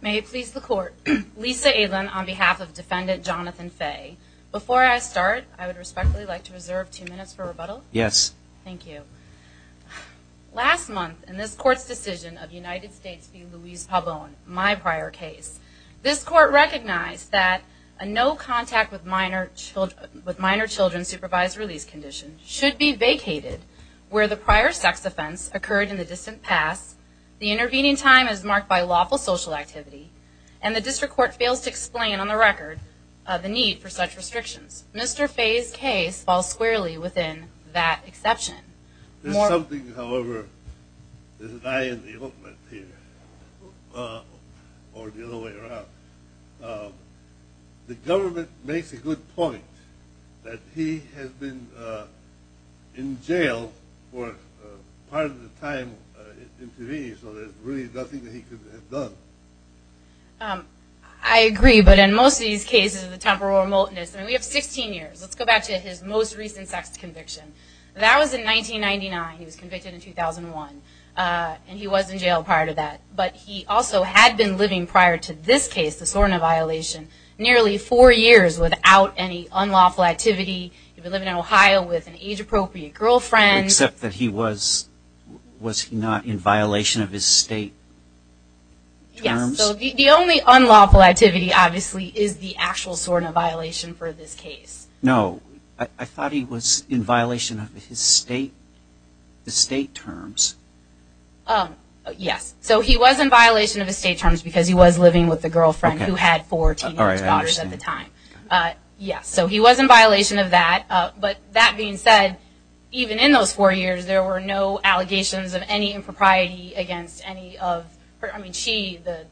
May it please the court. Lisa Aylen on behalf of defendant Jonathan Fey. Before I start I would respectfully like to reserve two minutes for rebuttal. Yes. Thank you. Last month in this court recognized that a no contact with minor children with minor children supervised release condition should be vacated where the prior sex offense occurred in the distant past. The intervening time is marked by lawful social activity and the district court fails to explain on the record of the need for such restrictions. Mr. Fey's case falls squarely within that the government makes a good point that he has been in jail for part of the time intervening so there's really nothing that he could have done. I agree but in most of these cases of the temporal remoteness and we have 16 years let's go back to his most recent sex conviction. That was in 1999 he was convicted in 2001 and he was in jail prior to that but he also had been living prior to this case the SORNA violation nearly four years without any unlawful activity. He had been living in Ohio with an age-appropriate girlfriend. Except that he was was he not in violation of his state? Yes the only unlawful activity obviously is the actual SORNA violation for this case. No I thought he was in violation of his state terms. Yes so he was in violation of his state terms because he was living with the girlfriend who had four teenage daughters at the time. Yes so he was in violation of that but that being said even in those four years there were no allegations of any impropriety against any of her I mean she the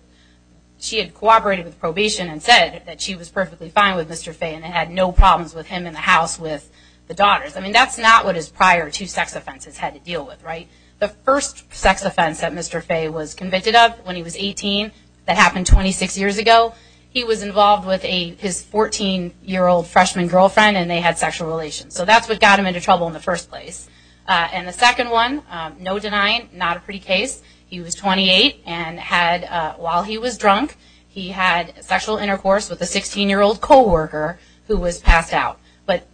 she had cooperated with probation and said that she was perfectly fine with Mr. Fey and had no problems with him in the house with the daughters. I mean that's not what his prior two sex offenses had to deal with right? The first sex offense that Mr. Fey was convicted of when he was 18 that happened 26 years ago he was involved with a his 14 year old freshman girlfriend and they had sexual relations so that's what got him into trouble in the first place. And the second one no denying not a pretty case he was 28 and had while he was drunk he had sexual intercourse with a 16 year old co-worker who was passed out. But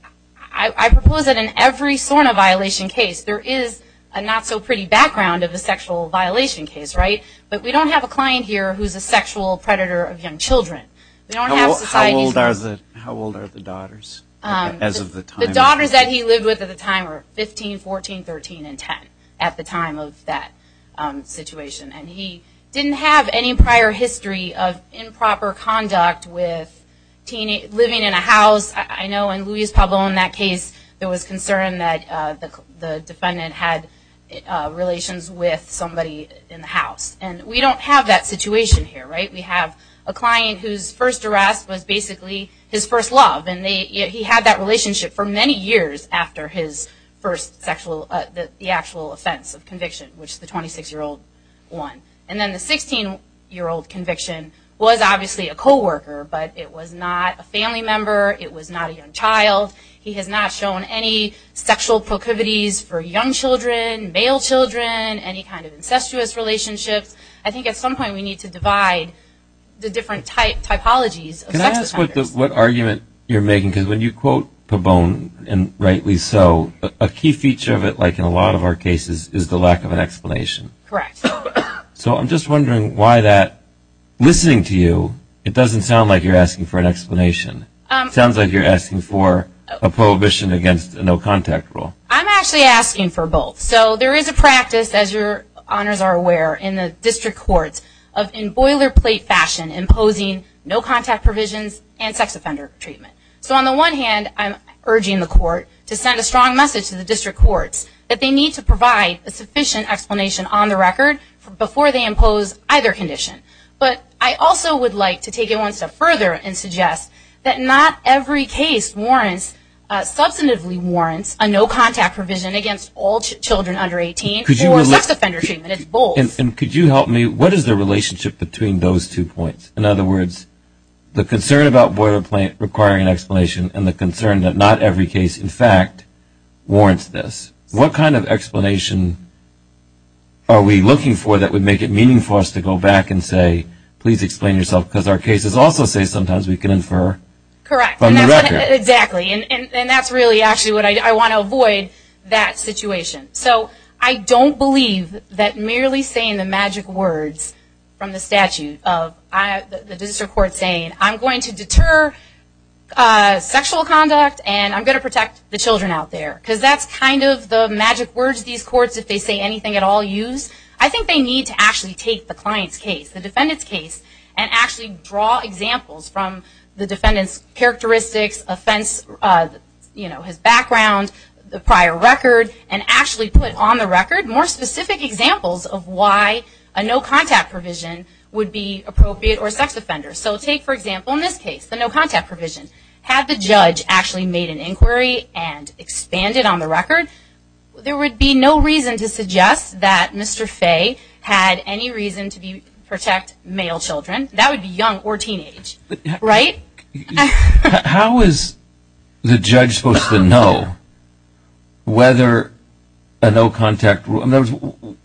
I propose that in every sort of violation case there is a not-so-pretty background of a sexual violation case right? But we don't have a client here who's a sexual predator of young children. How old are the daughters as of the time? The daughters that he lived with at the time are 15, 14, 13, and 10 at the time of that situation and he didn't have any prior history of improper conduct with teenage living in the house. I know in Luis Pablo in that case there was concern that the defendant had relations with somebody in the house and we don't have that situation here right? We have a client whose first arrest was basically his first love and they he had that relationship for many years after his first sexual the actual offense of conviction which the 26 year old won. And then the 16 year old conviction was obviously a co-worker but it was not a family member, it was not a young child, he has not shown any sexual proclivities for young children, male children, any kind of incestuous relationships. I think at some point we need to divide the different typologies of sex offenders. Can I ask what argument you're making because when you quote Pabon and rightly so a key feature of it like in a lot of our cases is the lack of an explanation. Correct. So I'm just wondering why that listening to you it doesn't sound like you're asking for a prohibition against a no contact rule. I'm actually asking for both. So there is a practice as your honors are aware in the district courts of in boilerplate fashion imposing no contact provisions and sex offender treatment. So on the one hand I'm urging the court to send a strong message to the district courts that they need to provide a sufficient explanation on the record before they impose either condition. But I also would like to take it one step further and suggest that not every case warrants, substantively warrants, a no contact provision against all children under 18 or sex offender treatment. It's both. And could you help me, what is the relationship between those two points? In other words, the concern about boilerplate requiring an explanation and the concern that not every case in fact warrants this. What kind of explanation are we looking for that would make it meaningful for us to go back and say please explain yourself because our cases also say sometimes we can infer. Correct. From the record. Exactly. And that's really actually what I want to avoid that situation. So I don't believe that merely saying the magic words from the statute of the district court saying I'm going to deter sexual conduct and I'm going to protect the children out there. Because that's kind of the magic words these cases use. I think they need to actually take the client's case, the defendant's case, and actually draw examples from the defendant's characteristics, offense, you know, his background, the prior record, and actually put on the record more specific examples of why a no contact provision would be appropriate or sex offender. So take for example in this case the no contact provision. Had the judge actually made an inquiry and expanded on the record, there would be no reason to suggest that Mr. Faye had any reason to protect male children. That would be young or teenage. Right? How is the judge supposed to know whether a no contact rule,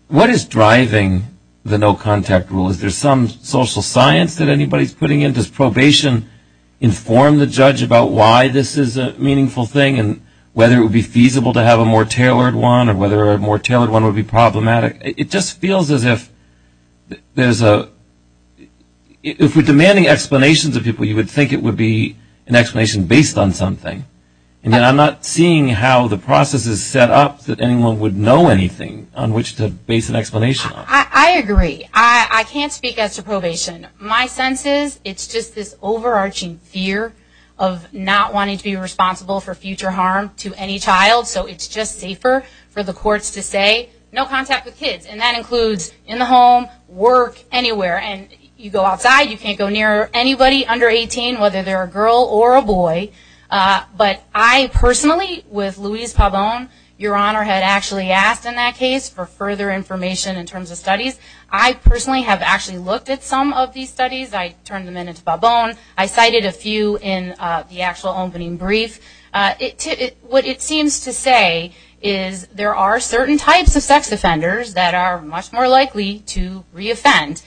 what is driving the no contact rule? Is there some social science that anybody is putting in? Does probation inform the judge about why this is a meaningful thing and whether it would be feasible to have a more tailored one or whether a more tailored one would be problematic? It just feels as if there's a, if we're demanding explanations of people, you would think it would be an explanation based on something. And I'm not seeing how the process is set up that anyone would know anything on which to base an explanation on. I agree. I can't speak as to probation. My sense is it's just this future harm to any child. So it's just safer for the courts to say no contact with kids. And that includes in the home, work, anywhere. And you go outside, you can't go near anybody under 18 whether they're a girl or a boy. But I personally, with Louise Pabon, Your Honor had actually asked in that case for further information in terms of studies. I personally have actually looked at some of these studies. I turned them into Pabon. I cited a few in the actual opening brief. What it seems to say is there are certain types of sex offenders that are much more likely to re-offend.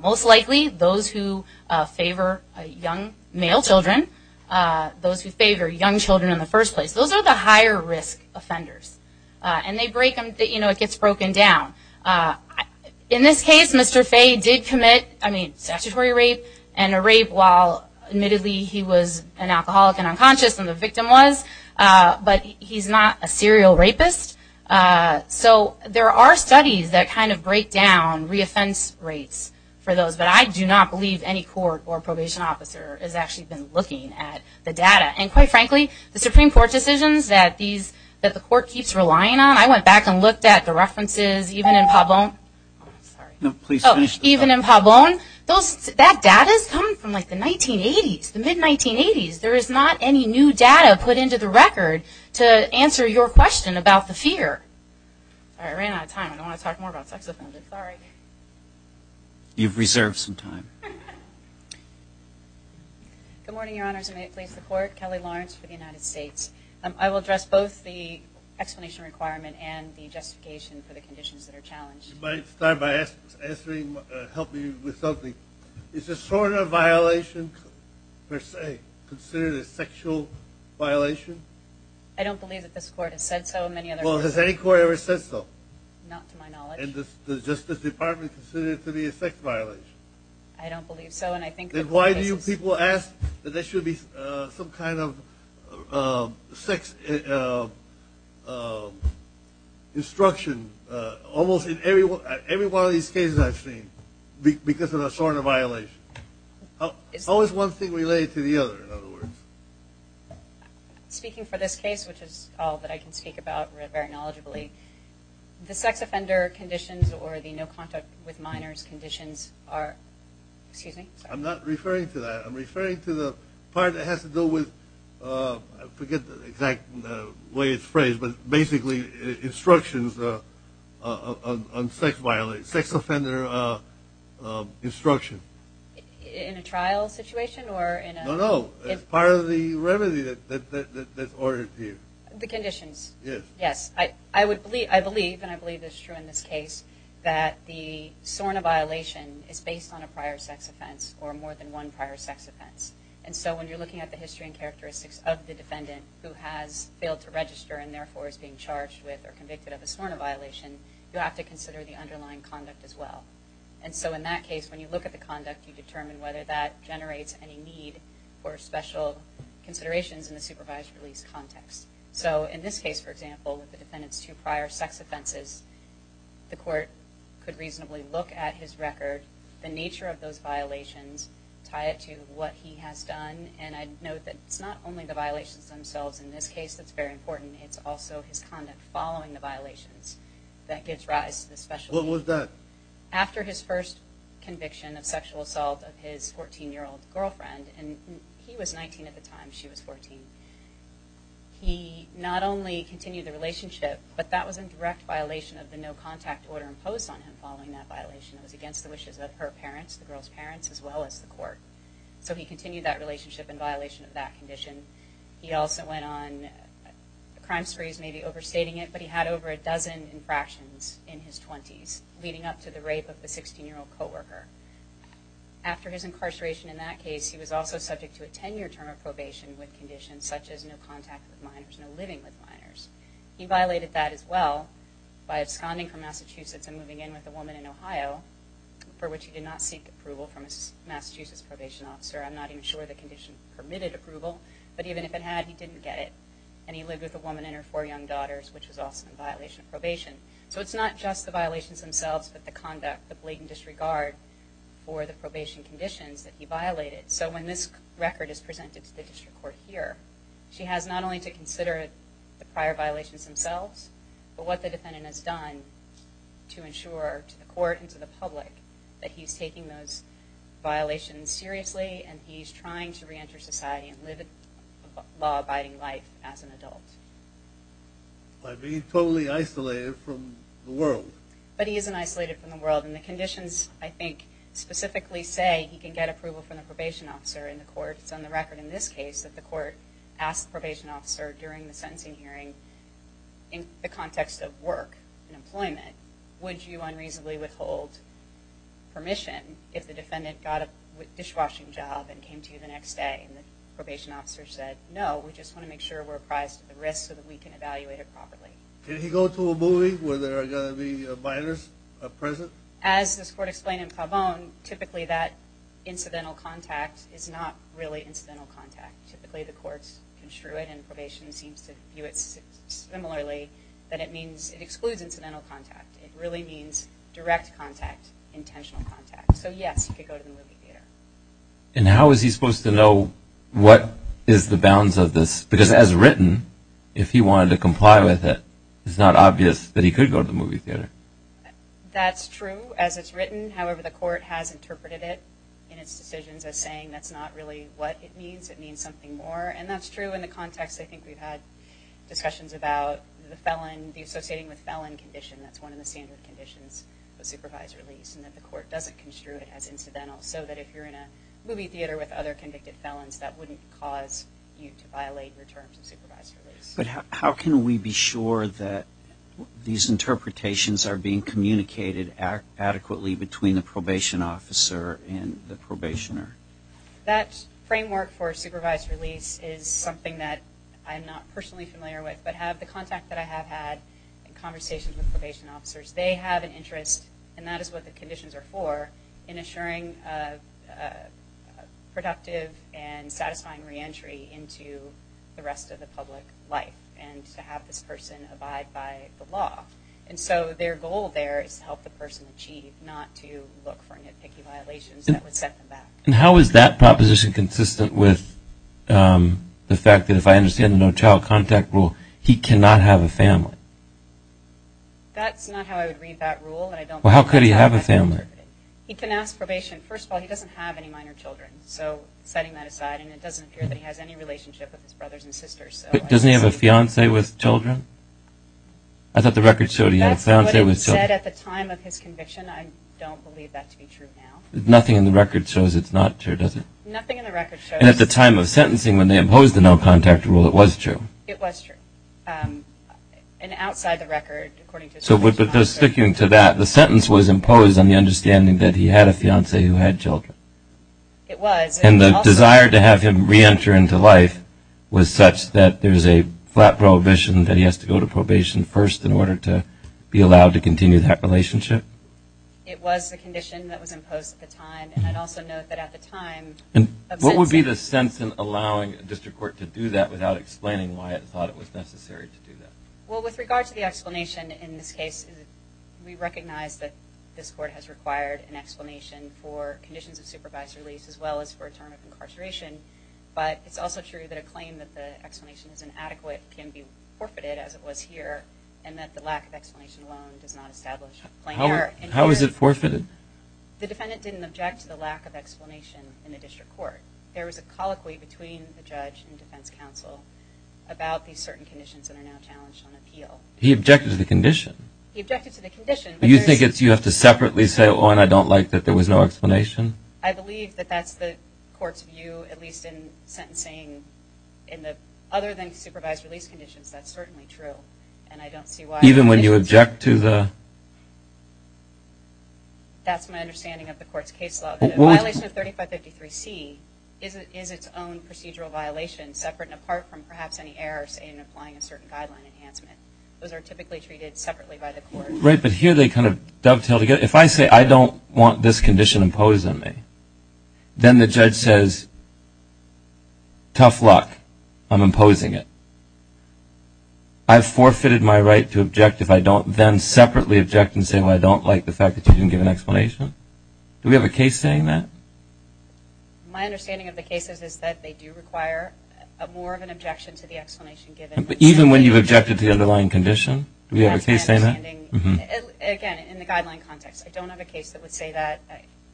Most likely those who favor young male children. Those who favor young children in the first place. Those are the higher risk offenders. And they break them, you know, it gets broken down. In this case, Mr. Fay did commit, I mean, statutory rape. And a rape while admittedly he was an alcoholic and unconscious and the victim was. But he's not a serial rapist. So there are studies that kind of break down re-offense rates for those. But I do not believe any court or probation officer has actually been looking at the data. And quite frankly, the Supreme Court decisions that these, that the court keeps relying on, I went back and looked at the Pabon. Those, that data has come from like the 1980s, the mid-1980s. There is not any new data put into the record to answer your question about the fear. Alright, I ran out of time. I don't want to talk more about sex offenders. Sorry. You've reserved some time. Good morning, Your Honors. I'm a police reporter, Kelly Lawrence for the United States. I will address both the explanation requirement and the justification for the conditions that are challenged. You might start by asking, answering, helping with something. Is this sort of violation per se, considered a sexual violation? I don't believe that this court has said so, and many others. Well, has any court ever said so? Not to my knowledge. And does the Justice Department consider it to be a sex violation? I don't believe so. And I think... Then why do you people ask that there should be some kind of sex instruction, almost in every one of these cases I've seen, because of that sort of violation? How is one thing related to the other, in other words? Speaking for this case, which is all that I can speak about very knowledgeably, the sex offender conditions or the no contact with minors conditions are... Excuse me? I'm not referring to that. I'm referring to the part that has to do with... I forget the exact way it's phrased, but basically instructions on sex offender instruction. In a trial situation or in a... No, no. It's part of the remedy that's ordered to you. The conditions. Yes. Yes. I believe, and I believe this is true in this case, that the SORNA violation is based on a prior sex offense or more than one prior sex offense. And so when you're looking at the history and characteristics of the defendant who has failed to register and therefore is being charged with or convicted of a SORNA violation, you have to consider the underlying conduct as well. And so in that case, when you look at the conduct, you determine whether that generates any need for special considerations in the supervised release context. So in this case, for example, with the defendant's two prior sex offenses, the court could reasonably look at his record, the nature of those he has done. And I'd note that it's not only the violations themselves in this case that's very important. It's also his conduct following the violations that gives rise to the special... What was that? After his first conviction of sexual assault of his 14 year old girlfriend, and he was 19 at the time, she was 14. He not only continued the relationship, but that was in direct violation of the no contact order imposed on him following that violation. It was against the wishes of her parents, the girl's parents, as well as the court. So he continued that relationship in violation of that condition. He also went on crime sprees, maybe overstating it, but he had over a dozen infractions in his 20s, leading up to the rape of the 16 year old co-worker. After his incarceration in that case, he was also subject to a 10 year term of probation with conditions such as no contact with minors, no living with minors. He violated that as well by absconding from Massachusetts and moving in with a woman in Ohio, for which he did not seek approval from a Massachusetts probation officer. I'm not even sure the condition permitted approval, but even if it had, he didn't get it. And he lived with a woman and her four young daughters, which was also in violation of probation. So it's not just the violations themselves, but the conduct, the blatant disregard for the probation conditions that he violated. So when this record is presented to the district court here, she has not only to consider the prior violations themselves, but what the defendant has done to ensure to the violations seriously, and he's trying to reenter society and live a law abiding life as an adult. By being totally isolated from the world. But he isn't isolated from the world and the conditions, I think, specifically say he can get approval from the probation officer in the court. It's on the record in this case that the court asked the probation officer during the sentencing hearing, in the context of work and employment, would you unreasonably withhold permission if the defendant got a dishwashing job and came to you the next day? And the probation officer said, no, we just want to make sure we're apprised of the risks so that we can evaluate it properly. Can he go to a movie where there are going to be a virus present? As this court explained in Calvone, typically that incidental contact is not really incidental contact. Typically the courts construe it and probation seems to view it similarly, that it means it excludes incidental contact. It really means direct contact, intentional contact. So yes, he could go to the movie theater. And how is he supposed to know what is the bounds of this? Because as written, if he wanted to comply with it, it's not obvious that he could go to the movie theater. That's true as it's written. However, the court has interpreted it in its decisions as saying that's not really what it means. It means something more. And that's true in the context. I think we've had discussions about the felon, the associating with felon condition. That's one of the standard conditions for supervised release and that the court doesn't construe it as incidental so that if you're in a movie theater with other convicted felons, that wouldn't cause you to violate your terms of supervised release. But how can we be sure that these interpretations are being communicated adequately between the probation officer and the probationer? That framework for supervised release is something that I'm not personally familiar with, but have the contact that I have had in conversations with probation officers. They have an interest, and that is what the conditions are for, in assuring productive and satisfying reentry into the rest of the public life and to have this person abide by the law. And so their goal there is to help the person achieve, not to look for nitpicky violations that would set them back. And how is that proposition consistent with the fact that if I understand the no child contact rule, he cannot have a family? That's not how I would read that rule. Well, how could he have a family? He can ask probation. First of all, he doesn't have any minor children. So setting that aside, and it doesn't appear that he has any relationship with his brothers and sisters. But doesn't he have a fiance with children? I thought the record showed he had a fiance with children. That's what it said at the time of his conviction. I don't believe that to be true now. Nothing in the record shows it's not true, does it? Nothing in the record shows it's not true. And at the time of sentencing, when they imposed the no contact rule, it was true. It was true. And outside the record, according to the sentencing record. So with the sticking to that, the sentence was imposed on the understanding that he had a fiance who had children. It was. And the desire to have him re-enter into life was such that there's a flat prohibition that he has to go to probation first in order to be allowed to continue that relationship. It was the condition that was imposed at the time. And I'd also note that at the time of sentencing. And what would be the sense in allowing a district court to do that without explaining why it thought it was necessary to do that? Well, with regard to the explanation in this case, we recognize that this court has required an explanation for conditions of supervised release, as well as for a term of incarceration. But it's also true that a claim that the explanation is inadequate can be forfeited as it was here. And that the lack of explanation alone does not establish a plain error. How was it forfeited? The defendant didn't object to the lack of explanation in the district court. There was a colloquy between the judge and defense counsel about these certain conditions that are now challenged on appeal. He objected to the condition. He objected to the condition. But you think it's, you have to separately say, oh, and I don't like that. There was no explanation. I believe that that's the court's view, at least in sentencing in the other than supervised release conditions. That's certainly true. And I don't see why. Even when you object to the. That's my understanding of the court's case law. Violation of 3553C is its own procedural violation separate and apart from perhaps any errors in applying a certain guideline enhancement. Those are typically treated separately by the court. Right. But here they kind of dovetail together. If I say, I don't want this condition imposed on me, then the judge says, tough luck, I'm imposing it. I've forfeited my right to object if I don't then separately object and say, well, I don't like the fact that you didn't give an explanation. Do we have a case saying that? My understanding of the cases is that they do require a more of an objection to the explanation given. But even when you've objected to the underlying condition, do we have a case saying that? Again, in the guideline context, I don't have a case that would say that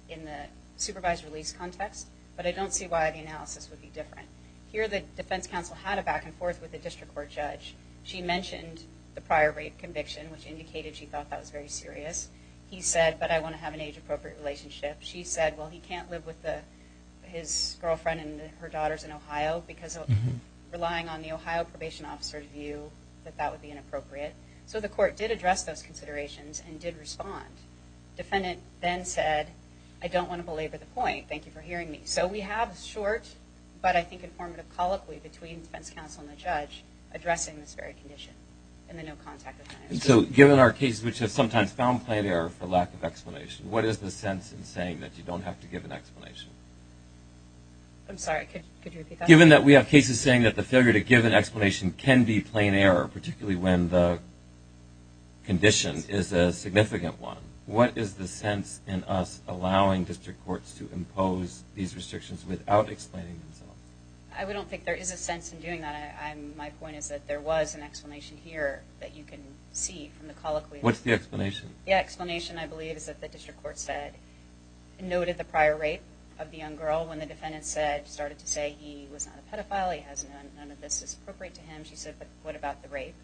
in the supervised release context, but I don't see why the analysis would be different. Here, the defense counsel had a back and forth with the district court judge. She mentioned the prior rape conviction, which indicated she thought that was very serious. He said, but I want to have an age appropriate relationship. She said, well, he can't live with his girlfriend and her daughters in Ohio because of relying on the Ohio probation officer's view that that would be inappropriate. So the court did address those considerations and did respond. Defendant then said, I don't want to belabor the point. Thank you for hearing me. So we have a short, but I think informative colloquy between defense counsel and the judge addressing this very condition in the no contact analysis. So given our cases, which have sometimes found plain error for lack of explanation, what is the sense in saying that you don't have to give an explanation? I'm sorry, could you repeat that? Given that we have cases saying that the failure to give an explanation can be plain error, particularly when the condition is a significant one. What is the sense in us allowing district courts to impose these restrictions without explaining themselves? I don't think there is a sense in doing that. My point is that there was an explanation here that you can see from the colloquy. What's the explanation? The explanation, I believe, is that the district court noted the prior rape of the young girl. When the defendant started to say he was not a pedophile, he has none of this is appropriate to him. She said, but what about the rape?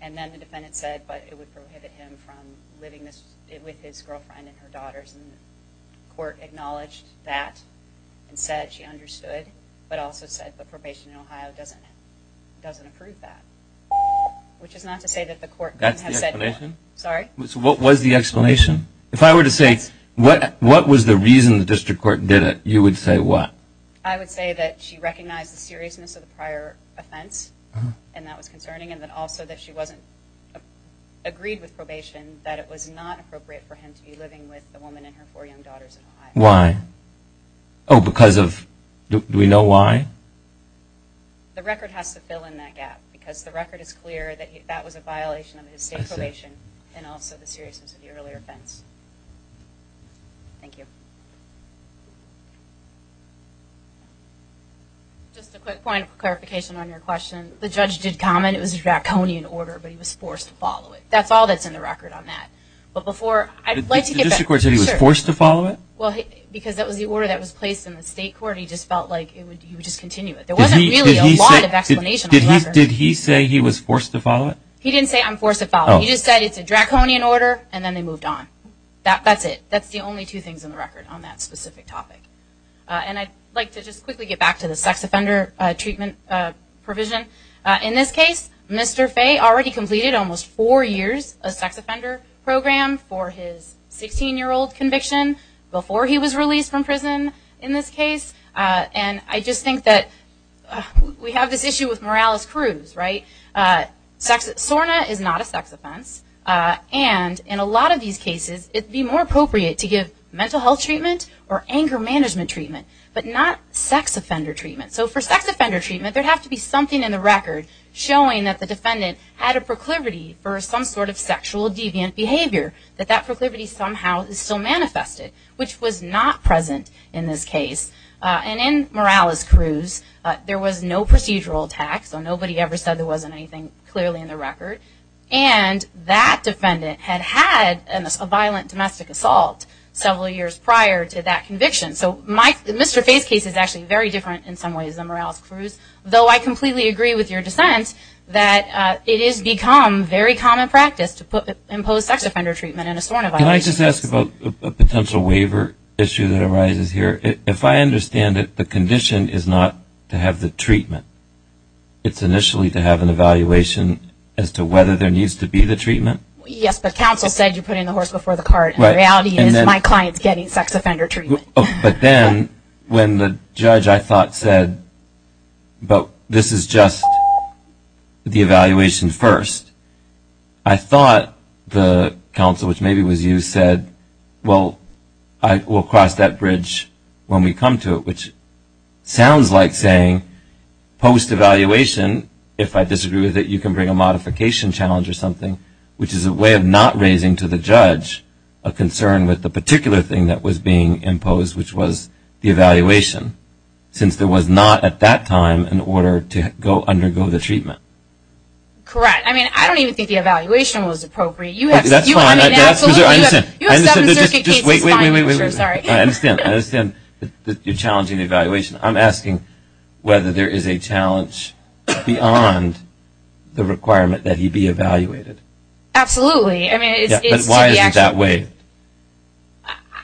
And then the defendant said, but it would prohibit him from living with his girlfriend and her daughters. And the court acknowledged that and said she understood, but also said the doesn't approve that, which is not to say that the court has said, sorry, what was the explanation? If I were to say what, what was the reason the district court did it? You would say what? I would say that she recognized the seriousness of the prior offense and that was concerning. And then also that she wasn't agreed with probation, that it was not appropriate for him to be living with the woman and her four young daughters. Why? Oh, because of, do we know why? The record has to fill in that gap because the record is clear that that was a violation of his state probation and also the seriousness of the earlier offense. Thank you. Just a quick point of clarification on your question. The judge did comment. It was a draconian order, but he was forced to follow it. That's all that's in the record on that. But before I'd like to get that, because that was the order that was placed in the record. There wasn't really a lot of explanation. Did he say he was forced to follow it? He didn't say I'm forced to follow. He just said it's a draconian order and then they moved on. That's it. That's the only two things in the record on that specific topic. And I'd like to just quickly get back to the sex offender treatment provision. In this case, Mr. Faye already completed almost four years of sex offender program for his 16 year old conviction before he was released from prison in this case. And I just think that we have this issue with Morales-Cruz, right? SORNA is not a sex offense. And in a lot of these cases, it'd be more appropriate to give mental health treatment or anger management treatment, but not sex offender treatment. So for sex offender treatment, there'd have to be something in the record showing that the defendant had a proclivity for some sort of sexual deviant behavior, that that proclivity somehow is still manifested, which was not present in this case. And in Morales-Cruz, there was no procedural tax, so nobody ever said there wasn't anything clearly in the record. And that defendant had had a violent domestic assault several years prior to that conviction. So Mr. Faye's case is actually very different in some ways than Morales-Cruz, though I completely agree with your dissent that it has become very common practice to impose sex offender treatment in a SORNA violation case. Can I ask about a potential waiver issue that arises here? If I understand it, the condition is not to have the treatment. It's initially to have an evaluation as to whether there needs to be the treatment. Yes, but counsel said you put in the horse before the cart. The reality is my client's getting sex offender treatment. But then when the judge, I thought, said, but this is just the evaluation first, I will cross that bridge when we come to it, which sounds like saying post-evaluation, if I disagree with it, you can bring a modification challenge or something, which is a way of not raising to the judge a concern with the particular thing that was being imposed, which was the evaluation, since there was not at that time an order to undergo the treatment. Correct. I mean, I don't even think the evaluation was appropriate. That's fine. You have seven circuit cases, fine, I'm sure, sorry. I understand. I understand that you're challenging the evaluation. I'm asking whether there is a challenge beyond the requirement that he be evaluated. I mean, it's to be actually evaluated. But why is it that way?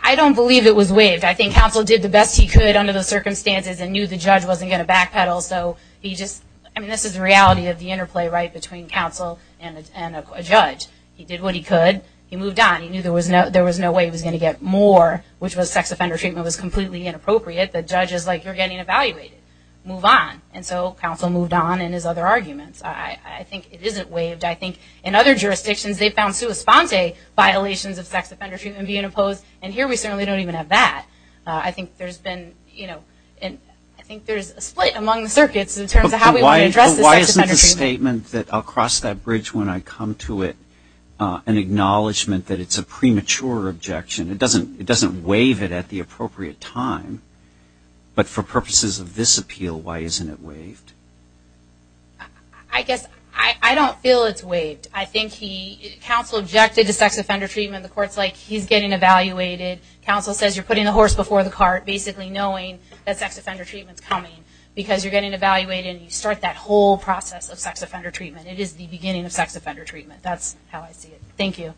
I don't believe it was waived. I think counsel did the best he could under the circumstances and knew the judge wasn't going to backpedal, so he just, I mean, this is the reality of the interplay right between counsel and a judge. He did what he could. He moved on. He knew there was no way he was going to get more, which was sex offender treatment was completely inappropriate. The judge is like, you're getting evaluated, move on. And so counsel moved on in his other arguments. I think it isn't waived. I think in other jurisdictions they've found sui sponte violations of sex offender treatment being imposed, and here we certainly don't even have that. I think there's been, you know, and I think there's a split among the circuits in terms of how we want to address the sex offender treatment. I'll cross that bridge when I come to it, an acknowledgment that it's a premature objection. It doesn't waive it at the appropriate time, but for purposes of this appeal, why isn't it waived? I guess I don't feel it's waived. I think he, counsel objected to sex offender treatment. The court's like, he's getting evaluated. Counsel says you're putting the horse before the cart, basically knowing that sex offender treatment's coming because you're getting evaluated and you start that whole process of sex offender treatment. It is the beginning of sex offender treatment. That's how I see it. Thank you.